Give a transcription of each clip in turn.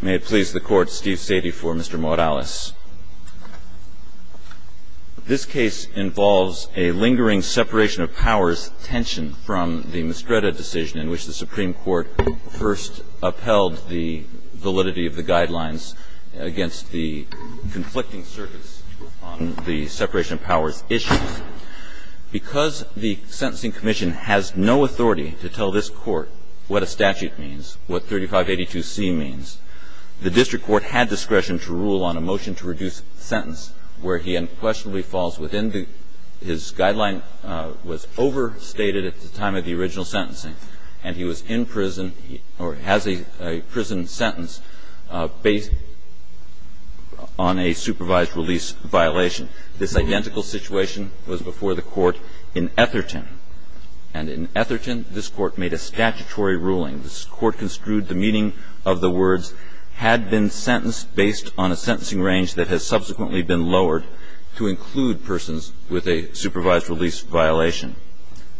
May it please the Court, Steve Sadie for Mr. Morales. This case involves a lingering separation of powers tension from the Mistreta decision in which the Supreme Court first upheld the validity of the guidelines against the conflicting circuits on the separation of powers issue. Because the Sentencing Commission has no authority to tell this Court what a statute means, what 3582C means, the district court had discretion to rule on a motion to reduce sentence where he unquestionably falls within the his guideline was overstated at the time of the original sentencing and he was in prison or has a prison sentence based on a supervised release violation. This identical situation was before the Court in Etherton. And in Etherton, this Court made a statutory ruling. This Court construed the meaning of the words had been sentenced based on a sentencing range that has subsequently been lowered to include persons with a supervised release violation.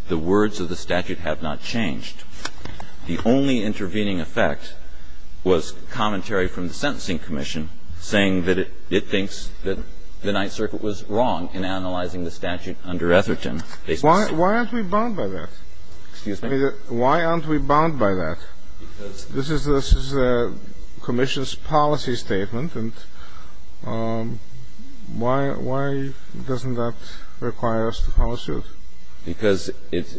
The words of the statute have not changed. The only intervening effect was commentary from the Sentencing Commission saying that it thinks that the Ninth Circuit was wrong in analyzing the statute under Etherton. Why aren't we bound by that? Excuse me? Why aren't we bound by that? This is the Commission's policy statement. And why doesn't that require us to follow suit? Because it's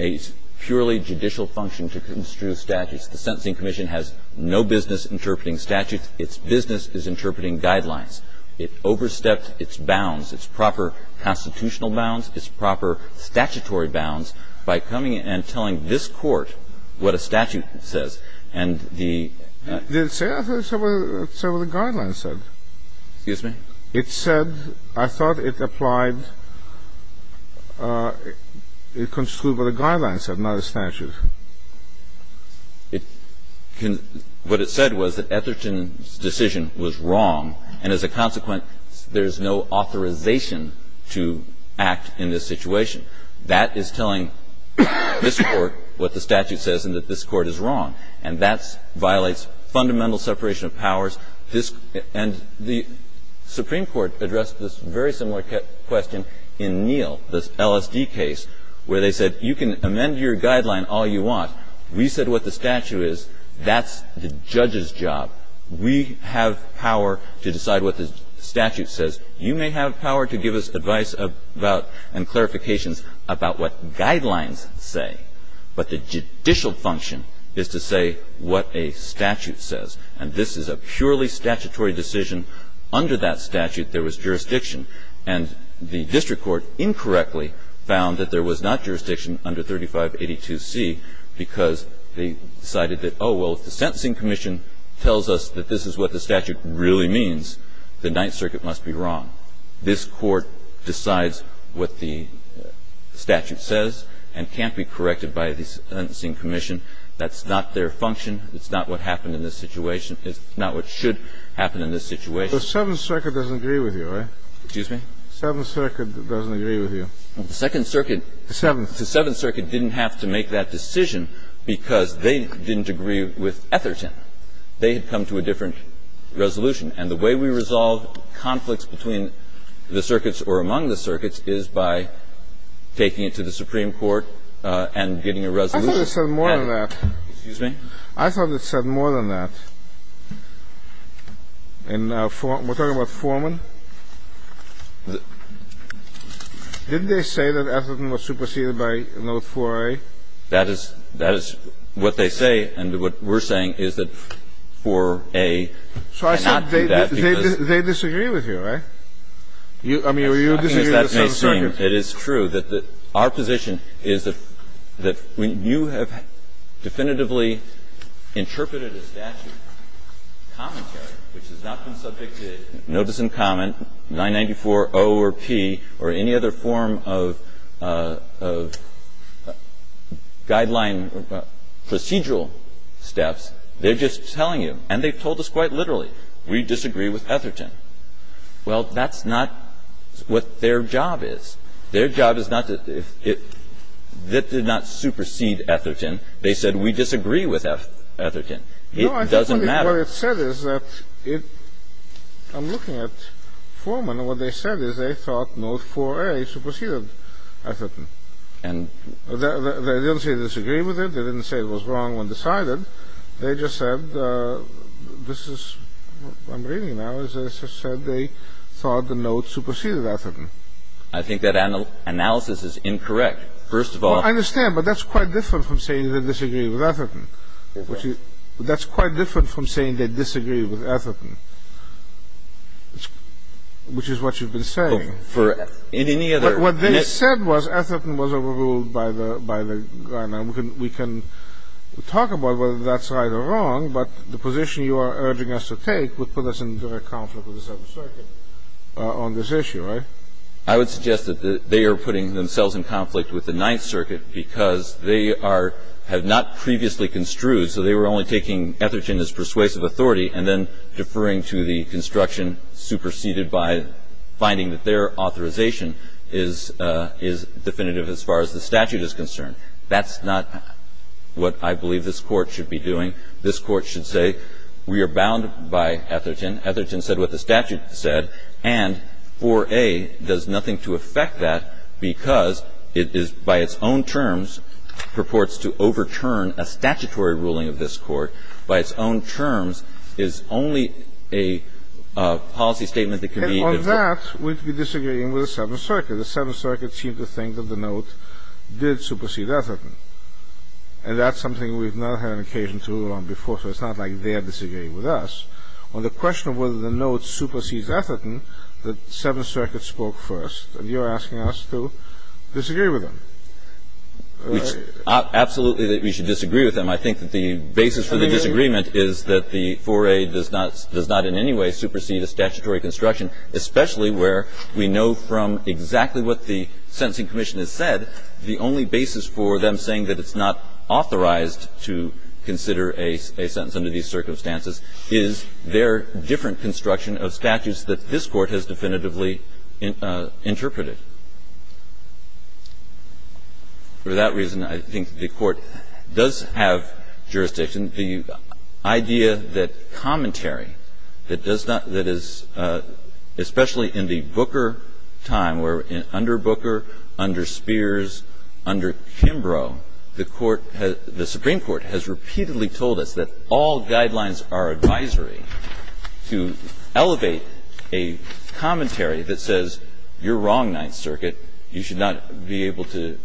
a purely judicial function to construe statutes. The Sentencing Commission has no business interpreting statutes. Its business is interpreting guidelines. It overstepped its bounds, its proper constitutional bounds, its proper statutory bounds, by coming and telling this Court what a statute says. And the ---- Did it say? I thought it said what the guideline said. Excuse me? It said ---- I thought it applied ---- it construed what the guideline said, not the statute. It can ---- what it said was that Etherton's decision was wrong, and as a consequence, there's no authorization to act in this situation. That is telling this Court what the statute says and that this Court is wrong. And that violates fundamental separation of powers. And the Supreme Court addressed this very similar question in Neal, this LSD case, where they said you can amend your guideline all you want. We said what the statute is. That's the judge's job. We have power to decide what the statute says. You may have power to give us advice about and clarifications about what guidelines say, but the judicial function is to say what a statute says. And this is a purely statutory decision. Under that statute, there was jurisdiction. And the district court incorrectly found that there was not jurisdiction under 3582C because they decided that, oh, well, if the Sentencing Commission tells us that this is what the statute really means, the Ninth Circuit must be wrong. This Court decides what the statute says and can't be corrected by the Sentencing Commission. That's not their function. It's not what happened in this situation. It's not what should happen in this situation. The Seventh Circuit doesn't agree with you, right? Excuse me? The Seventh Circuit doesn't agree with you. The Second Circuit. The Seventh. The Seventh Circuit didn't have to make that decision because they didn't agree with Etherton. They had come to a different resolution. And the way we resolve conflicts between the circuits or among the circuits is by taking it to the Supreme Court and getting a resolution. I thought you said more than that. Excuse me? I thought you said more than that. And we're talking about Foreman. Didn't they say that Etherton was superseded by Note 4A? That is what they say, and what we're saying is that 4A did not do that because So I said they disagree with you, right? I mean, you disagree with the Seventh Circuit. It is true that our position is that when you have definitively interpreted a statute commentary, which has not been subject to notice and comment, 994.0 or P, or any other form of guideline or procedural steps, they're just telling you, and they've told us quite literally, we disagree with Etherton. Well, that's not what their job is. Their job is not to, that did not supersede Etherton. They said we disagree with Etherton. It doesn't matter. What it said is that, I'm looking at Foreman, and what they said is they thought Note 4A superseded Etherton. And they didn't say they disagree with it. They didn't say it was wrong when decided. They just said, this is, I'm reading now, they said they thought the Note superseded Etherton. I think that analysis is incorrect, first of all. Well, I understand, but that's quite different from saying they disagree with Etherton. That's quite different from saying they disagree with Etherton, which is what you've been saying. For any other. But what they said was Etherton was overruled by the guideline. We can talk about whether that's right or wrong, but the position you are urging us to take would put us in direct conflict with the Seventh Circuit on this issue, right? I would suggest that they are putting themselves in conflict with the Ninth Circuit because they are, have not previously construed, so they were only taking Etherton as persuasive authority and then deferring to the construction superseded by finding that their authorization is definitive as far as the statute is concerned. That's not what I believe this Court should be doing. This Court should say we are bound by Etherton. Etherton said what the statute said, and 4A does nothing to affect that because it is, by its own terms, purports to overturn a statutory ruling of this Court. By its own terms is only a policy statement that can be. And on that, we disagree with the Seventh Circuit. The Seventh Circuit seemed to think that the note did supersede Etherton. And that's something we've not had an occasion to rule on before, so it's not like they are disagreeing with us. On the question of whether the note supersedes Etherton, the Seventh Circuit spoke first. And you are asking us to disagree with them. Absolutely that we should disagree with them. I think that the basis for the disagreement is that the 4A does not in any way supersede a statutory construction, especially where we know from exactly what the Sentencing Commission has said, the only basis for them saying that it's not authorized to consider a sentence under these circumstances is their different construction of statutes that this Court has definitively interpreted. For that reason, I think the Court does have jurisdiction. And the idea that commentary that does not – that is – especially in the Booker time, where under Booker, under Spears, under Kimbrough, the Court has – the Supreme Court has repeatedly told us that all guidelines are advisory to elevate a commentary that says you're wrong, Ninth Circuit, you should not be able to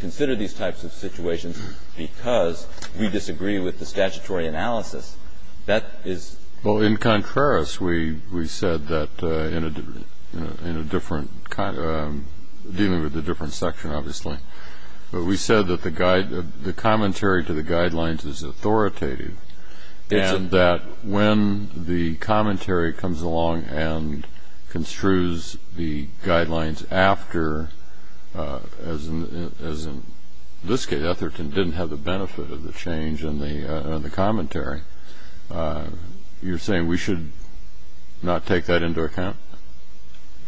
consider these types of situations because we disagree with the statutory analysis. That is – Well, in contrast, we said that in a different – dealing with a different section, obviously. But we said that the commentary to the guidelines is authoritative. And that when the commentary comes along and construes the guidelines after, as in this case, Etherton didn't have the benefit of the change in the commentary, you're saying we should not take that into account?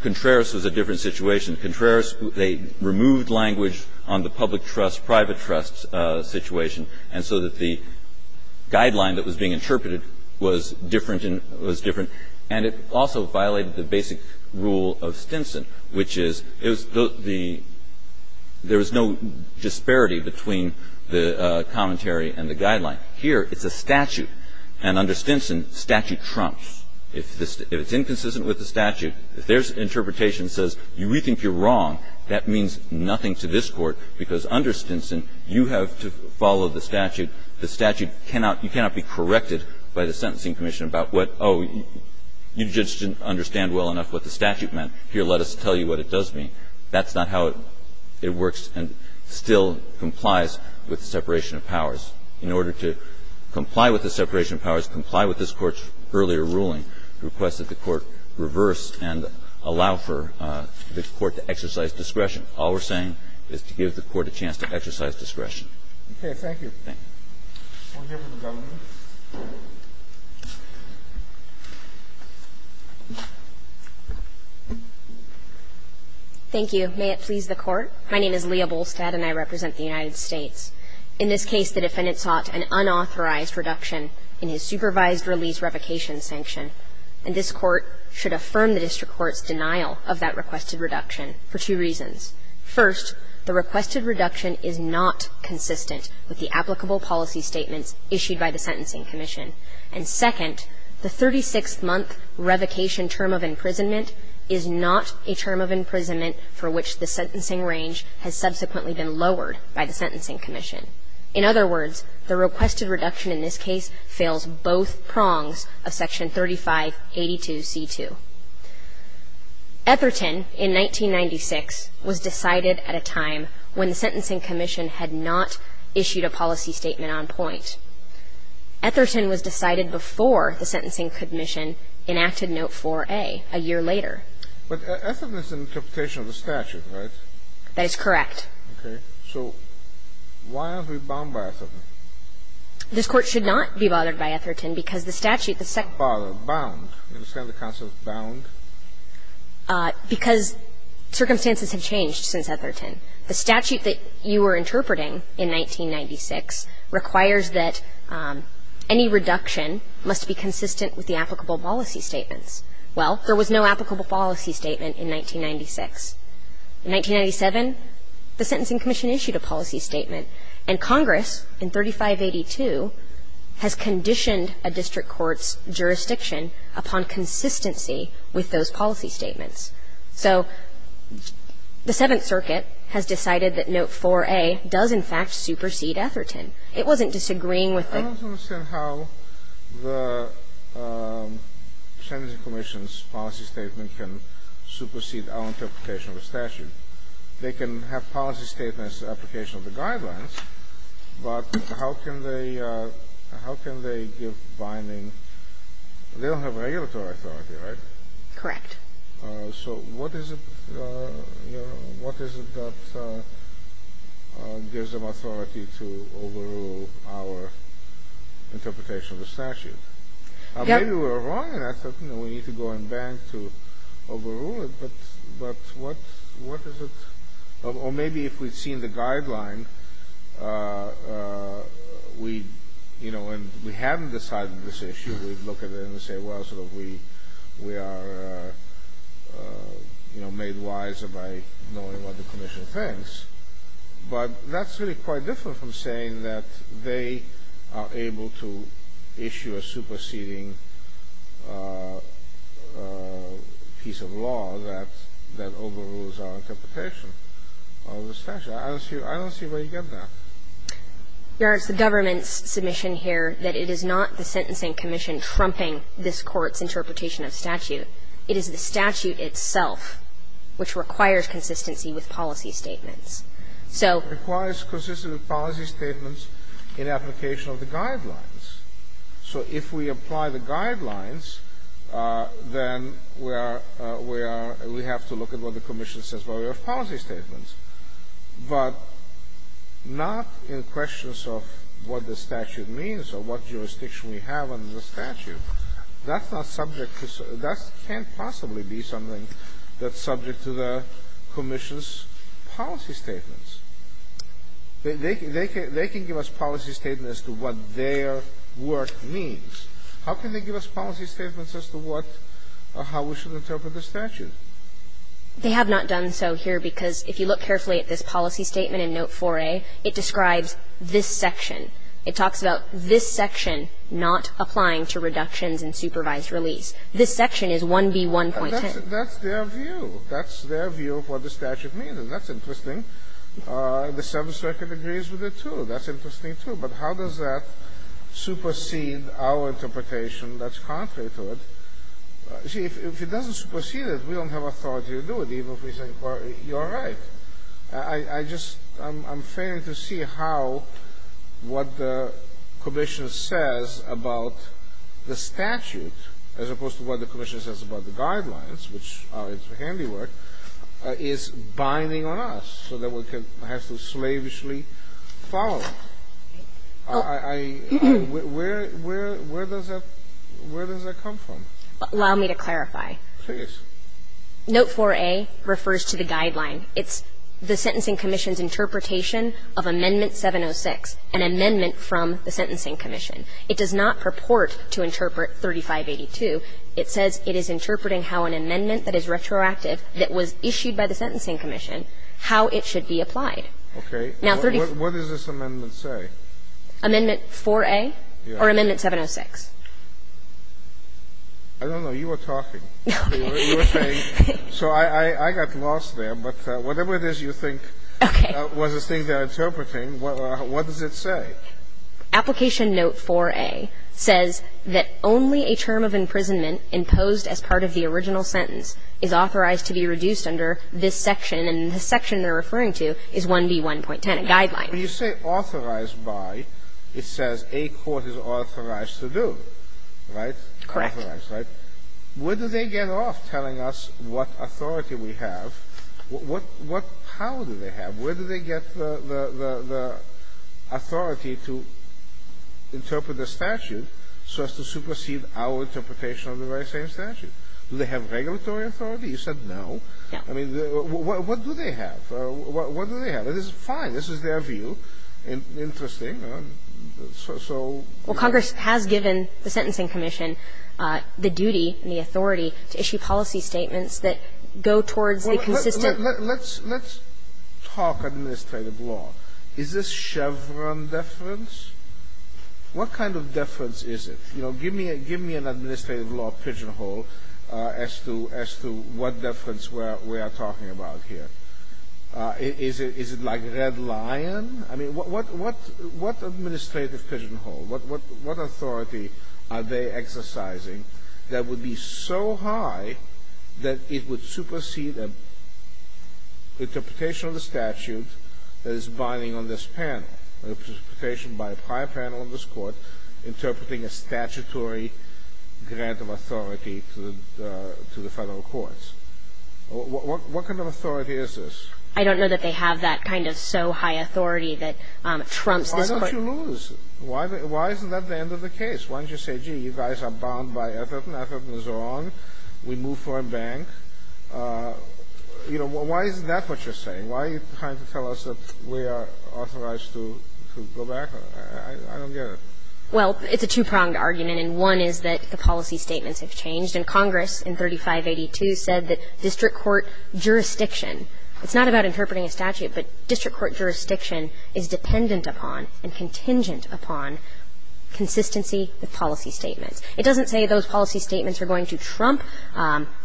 Contreras was a different situation. Contreras, they removed language on the public trust, private trust situation, and so that the guideline that was being interpreted was different and – was different. And it also violated the basic rule of Stinson, which is it was the – there was no disparity between the commentary and the guideline. Here, it's a statute. And under Stinson, statute trumps. If this – if it's inconsistent with the statute, if their interpretation says you rethink you're wrong, that means nothing to this Court, because under Stinson you have to follow the statute. The statute cannot – you cannot be corrected by the Sentencing Commission about what, oh, you just didn't understand well enough what the statute meant. Here, let us tell you what it does mean. That's not how it works and still complies with the separation of powers. In order to comply with the separation of powers, comply with this Court's earlier ruling, request that the Court reverse and allow for the Court to exercise discretion. All we're saying is to give the Court a chance to exercise discretion. Okay. Thank you. Thank you. We'll hear from the governor. Thank you. May it please the Court. My name is Leah Bolstad, and I represent the United States. In this case, the defendant sought an unauthorized reduction in his supervised release revocation sanction, and this Court should affirm the district court's denial of that requested reduction for two reasons. First, the requested reduction is not consistent with the applicable policy statements issued by the Sentencing Commission. And second, the 36-month revocation term of imprisonment is not a term of imprisonment for which the sentencing range has subsequently been lowered by the Sentencing Commission. In other words, the requested reduction in this case fails both prongs of Section 3582c2. Etherton, in 1996, was decided at a time when the Sentencing Commission had not issued a policy statement on point. Etherton was decided before the Sentencing Commission enacted Note 4a a year later. But Etherton is an interpretation of the statute, right? That is correct. Okay. So why aren't we bothered by Etherton? This Court should not be bothered by Etherton because the statute, the statute is not bothered, bound. You understand the concept of bound? Because circumstances have changed since Etherton. The statute that you were interpreting in 1996 requires that any reduction must be consistent with the applicable policy statements. Well, there was no applicable policy statement in 1996. In 1997, the Sentencing Commission issued a policy statement, and Congress, in 3582, has conditioned a district court's jurisdiction upon consistency with those policy statements. So the Seventh Circuit has decided that Note 4a does, in fact, supersede Etherton. It wasn't disagreeing with the ---- I don't understand how the Sentencing Commission's policy statement can supersede our interpretation of the statute. They can have policy statements application of the guidelines, but how can they give binding ---- they don't have regulatory authority, right? Correct. So what is it, you know, what is it that gives them authority to overrule our interpretation of the statute? Yep. Maybe we're wrong in that, you know, we need to go and bank to overrule it, but what is it? Or maybe if we'd seen the guideline, we, you know, and we hadn't decided this issue, we'd look at it and say, well, sort of, we are, you know, made wiser by knowing what the commission thinks. But that's really quite different from saying that they are able to issue a superseding piece of law that overrules our interpretation of the statute. I don't see where you get that. Your Honor, it's the government's submission here that it is not the Sentencing Commission trumping this Court's interpretation of statute. It is the statute itself which requires consistency with policy statements. So ---- It requires consistency with policy statements in application of the guidelines. So if we apply the guidelines, then we are, we are, we have to look at what the commission says about our policy statements. But not in questions of what the statute means or what jurisdiction we have under the statute. That's not subject to the ---- that can't possibly be something that's subject to the commission's policy statements. They can give us policy statements as to what their work means. How can they give us policy statements as to what or how we should interpret the statute? They have not done so here because if you look carefully at this policy statement in Note 4a, it describes this section. It talks about this section not applying to reductions in supervised release. This section is 1B1.10. That's their view. That's their view of what the statute means, and that's interesting. The Seventh Circuit agrees with it, too. That's interesting, too. But how does that supersede our interpretation that's contrary to it? See, if it doesn't supersede it, we don't have authority to do it, even if we say, well, you're right. I just ---- I'm failing to see how ---- what the commission says about the statute as opposed to what the commission says about the guidelines, which are its handiwork, is binding on us so that we can ---- have to slavishly follow it. I ---- where does that ---- where does that come from? Allow me to clarify. Please. Note 4a refers to the guideline. It's the Sentencing Commission's interpretation of Amendment 706, an amendment from the Sentencing Commission. It does not purport to interpret 3582. It says it is interpreting how an amendment that is retroactive that was issued by the Sentencing Commission, how it should be applied. Okay. What does this amendment say? Amendment 4a or Amendment 706. I don't know. You were talking. So I got lost there, but whatever it is you think was the thing they're interpreting, what does it say? Application Note 4a says that only a term of imprisonment imposed as part of the original sentence is authorized to be reduced under this section, and the section they're referring to is 1B1.10, a guideline. When you say authorized by, it says a court is authorized to do. Right? Correct. Where do they get off telling us what authority we have? How do they have? Where do they get the authority to interpret the statute so as to supersede our interpretation of the very same statute? Do they have regulatory authority? You said no. Yeah. I mean, what do they have? What do they have? This is fine. This is their view. Interesting. So. Well, Congress has given the Sentencing Commission the duty and the authority to issue policy statements that go towards a consistent. Let's talk administrative law. Is this Chevron deference? What kind of deference is it? You know, give me an administrative law pigeonhole as to what deference we are talking about here. Is it like red lion? I mean, what administrative pigeonhole, what authority are they exercising that would be so high that it would supersede an interpretation of the statute that is binding on this panel, an interpretation by a prior panel on this court interpreting a statutory grant of authority to the federal courts? What kind of authority is this? I don't know that they have that kind of so high authority that trumps this court. Why don't you lose? Why isn't that the end of the case? Why don't you say, gee, you guys are bound by Ethelton. Ethelton is wrong. We move for a bank. You know, why is that what you're saying? Why are you trying to tell us that we are authorized to go back? I don't get it. Well, it's a two-pronged argument, and one is that the policy statements have changed. And Congress in 3582 said that district court jurisdiction. It's not about interpreting a statute, but district court jurisdiction is dependent upon and contingent upon consistency with policy statements. It doesn't say those policy statements are going to trump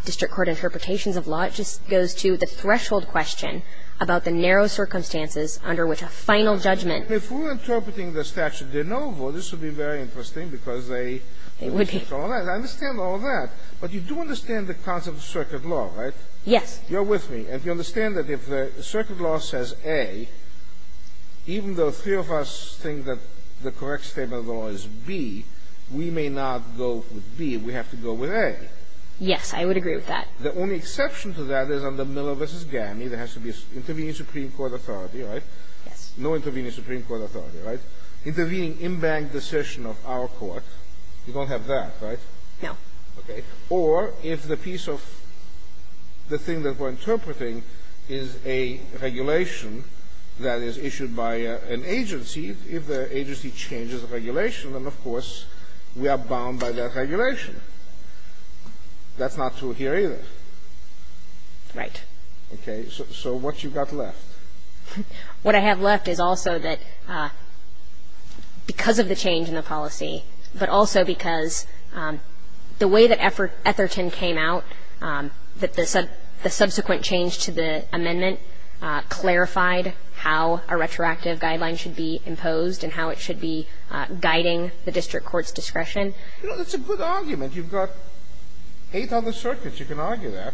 district court interpretations of law. It just goes to the threshold question about the narrow circumstances under which a final judgment. If we're interpreting the statute de novo, this would be very interesting because they would be. I understand all that. But you do understand the concept of circuit law, right? Yes. You're with me. And you understand that if the circuit law says A, even though three of us think that the correct statement of the law is B, we may not go with B. We have to go with A. Yes. I would agree with that. The only exception to that is under Miller v. Gammy. There has to be an intervening Supreme Court authority, right? Yes. No intervening Supreme Court authority, right? Intervening in bank decision of our court. You don't have that, right? No. Okay. Or if the piece of the thing that we're interpreting is a regulation that is issued by an agency, if the agency changes the regulation, then, of course, we are bound by that regulation. That's not true here either. Right. Okay. So what you've got left? What I have left is also that because of the change in the policy, but also because the way that Etherton came out, that the subsequent change to the amendment clarified how a retroactive guideline should be imposed and how it should be guiding the district court's discretion. You know, that's a good argument. You've got eight other circuits, you can argue that,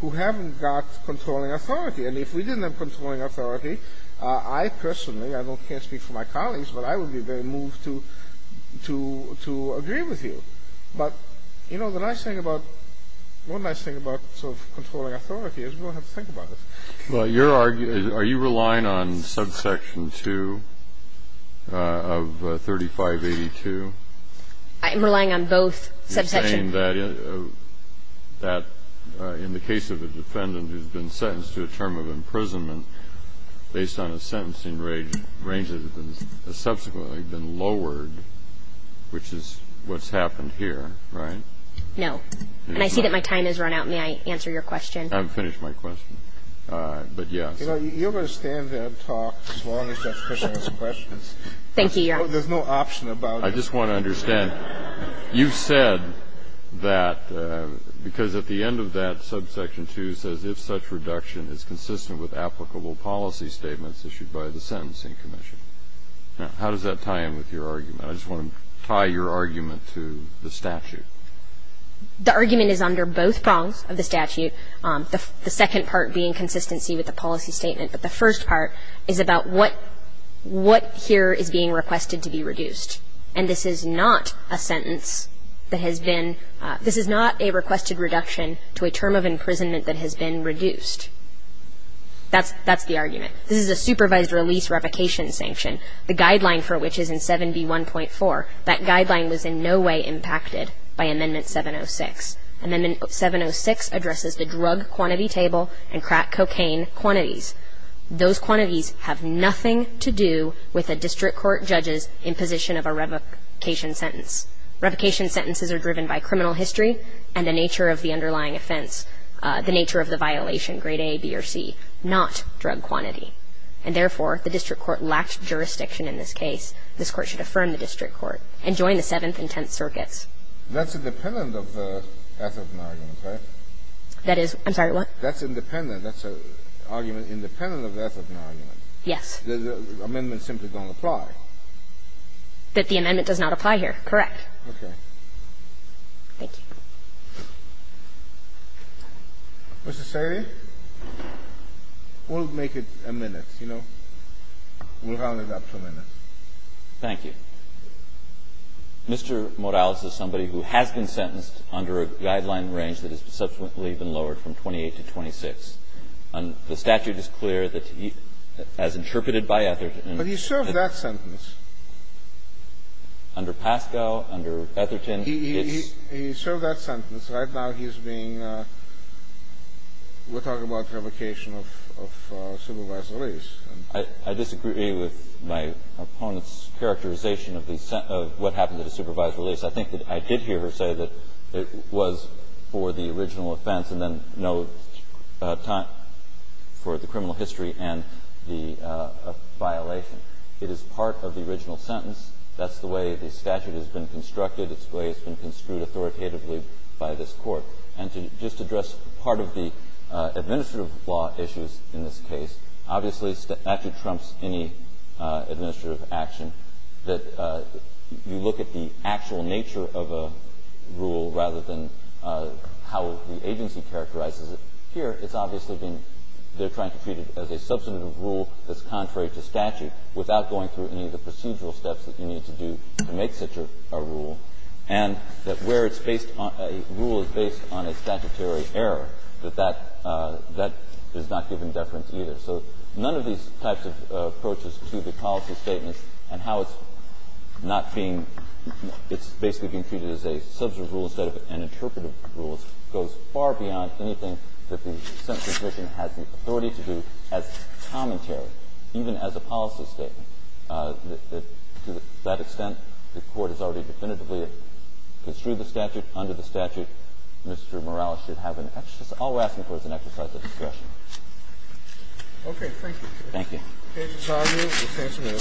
who haven't got controlling authority. And if we didn't have controlling authority, I personally, I can't speak for my colleagues, but I would be very moved to agree with you. But, you know, the nice thing about, one nice thing about sort of controlling authority is we don't have to think about this. Well, your argument, are you relying on subsection 2 of 3582? I am relying on both subsections. You're saying that in the case of a defendant who's been sentenced to a term of subsection 2 of 3582, there has been a reduction in the amount of time that has been subsequently been lowered, which is what's happened here, right? No. And I see that my time has run out. May I answer your question? I haven't finished my question. But, yes. You know, you're going to stand there and talk as long as Judge Christian has questions. Thank you, Your Honor. There's no option about it. I just want to understand, you've said that because at the end of that, subsection 2 says if such reduction is consistent with applicable policy statements issued by the Sentencing Commission. Now, how does that tie in with your argument? I just want to tie your argument to the statute. The argument is under both prongs of the statute, the second part being consistency with the policy statement. But the first part is about what here is being requested to be reduced. And this is not a sentence that has been, this is not a requested reduction to a term of imprisonment that has been reduced. That's the argument. This is a supervised release revocation sanction, the guideline for which is in 7B1.4. That guideline was in no way impacted by Amendment 706. Amendment 706 addresses the drug quantity table and crack cocaine quantities. Those quantities have nothing to do with a district court judge's imposition of a revocation sentence. Revocation sentences are driven by criminal history and the nature of the underlying offense, the nature of the violation, grade A, B, or C, not drug quantity. And therefore, the district court lacked jurisdiction in this case. This Court should affirm the district court and join the Seventh and Tenth Circuits. That's independent of the Ethelton argument, right? That is. I'm sorry, what? That's independent. That's an argument independent of the Ethelton argument. Yes. The amendments simply don't apply. That the amendment does not apply here. Correct. Okay. Thank you. Mr. Salyer, we'll make it a minute, you know. We'll round it up to a minute. Thank you. Mr. Morales is somebody who has been sentenced under a guideline range that has subsequently been lowered from 28 to 26. And the statute is clear that he, as interpreted by Ethelton. But he served that sentence. Under Pascoe, under Ethelton. He served that sentence. Right now he's being we're talking about revocation of supervisory release. I disagree with my opponent's characterization of what happened to the supervisory release. I think that I did hear her say that it was for the original offense and then no time for the criminal history and the violation. It is part of the original sentence. That's the way the statute has been constructed. It's the way it's been construed authoritatively by this court. And to just address part of the administrative law issues in this case, obviously statute trumps any administrative action that you look at the actual nature of a rule rather than how the agency characterizes it. Here it's obviously been they're trying to treat it as a substantive rule that's contrary to statute without going through any of the procedural steps that you need to do to make such a rule. And that where it's based on a rule is based on a statutory error, that that is not given deference either. So none of these types of approaches to the policy statements and how it's not being it's basically being treated as a substantive rule instead of an interpretive rule goes far beyond anything that the sentencing commission has the authority to do as commentary, even as a policy statement. To that extent, the Court has already definitively construed the statute. Under the statute, Mr. Morales should have an exercise. All we're asking for is an exercise of discretion. Okay. Thank you. Thank you.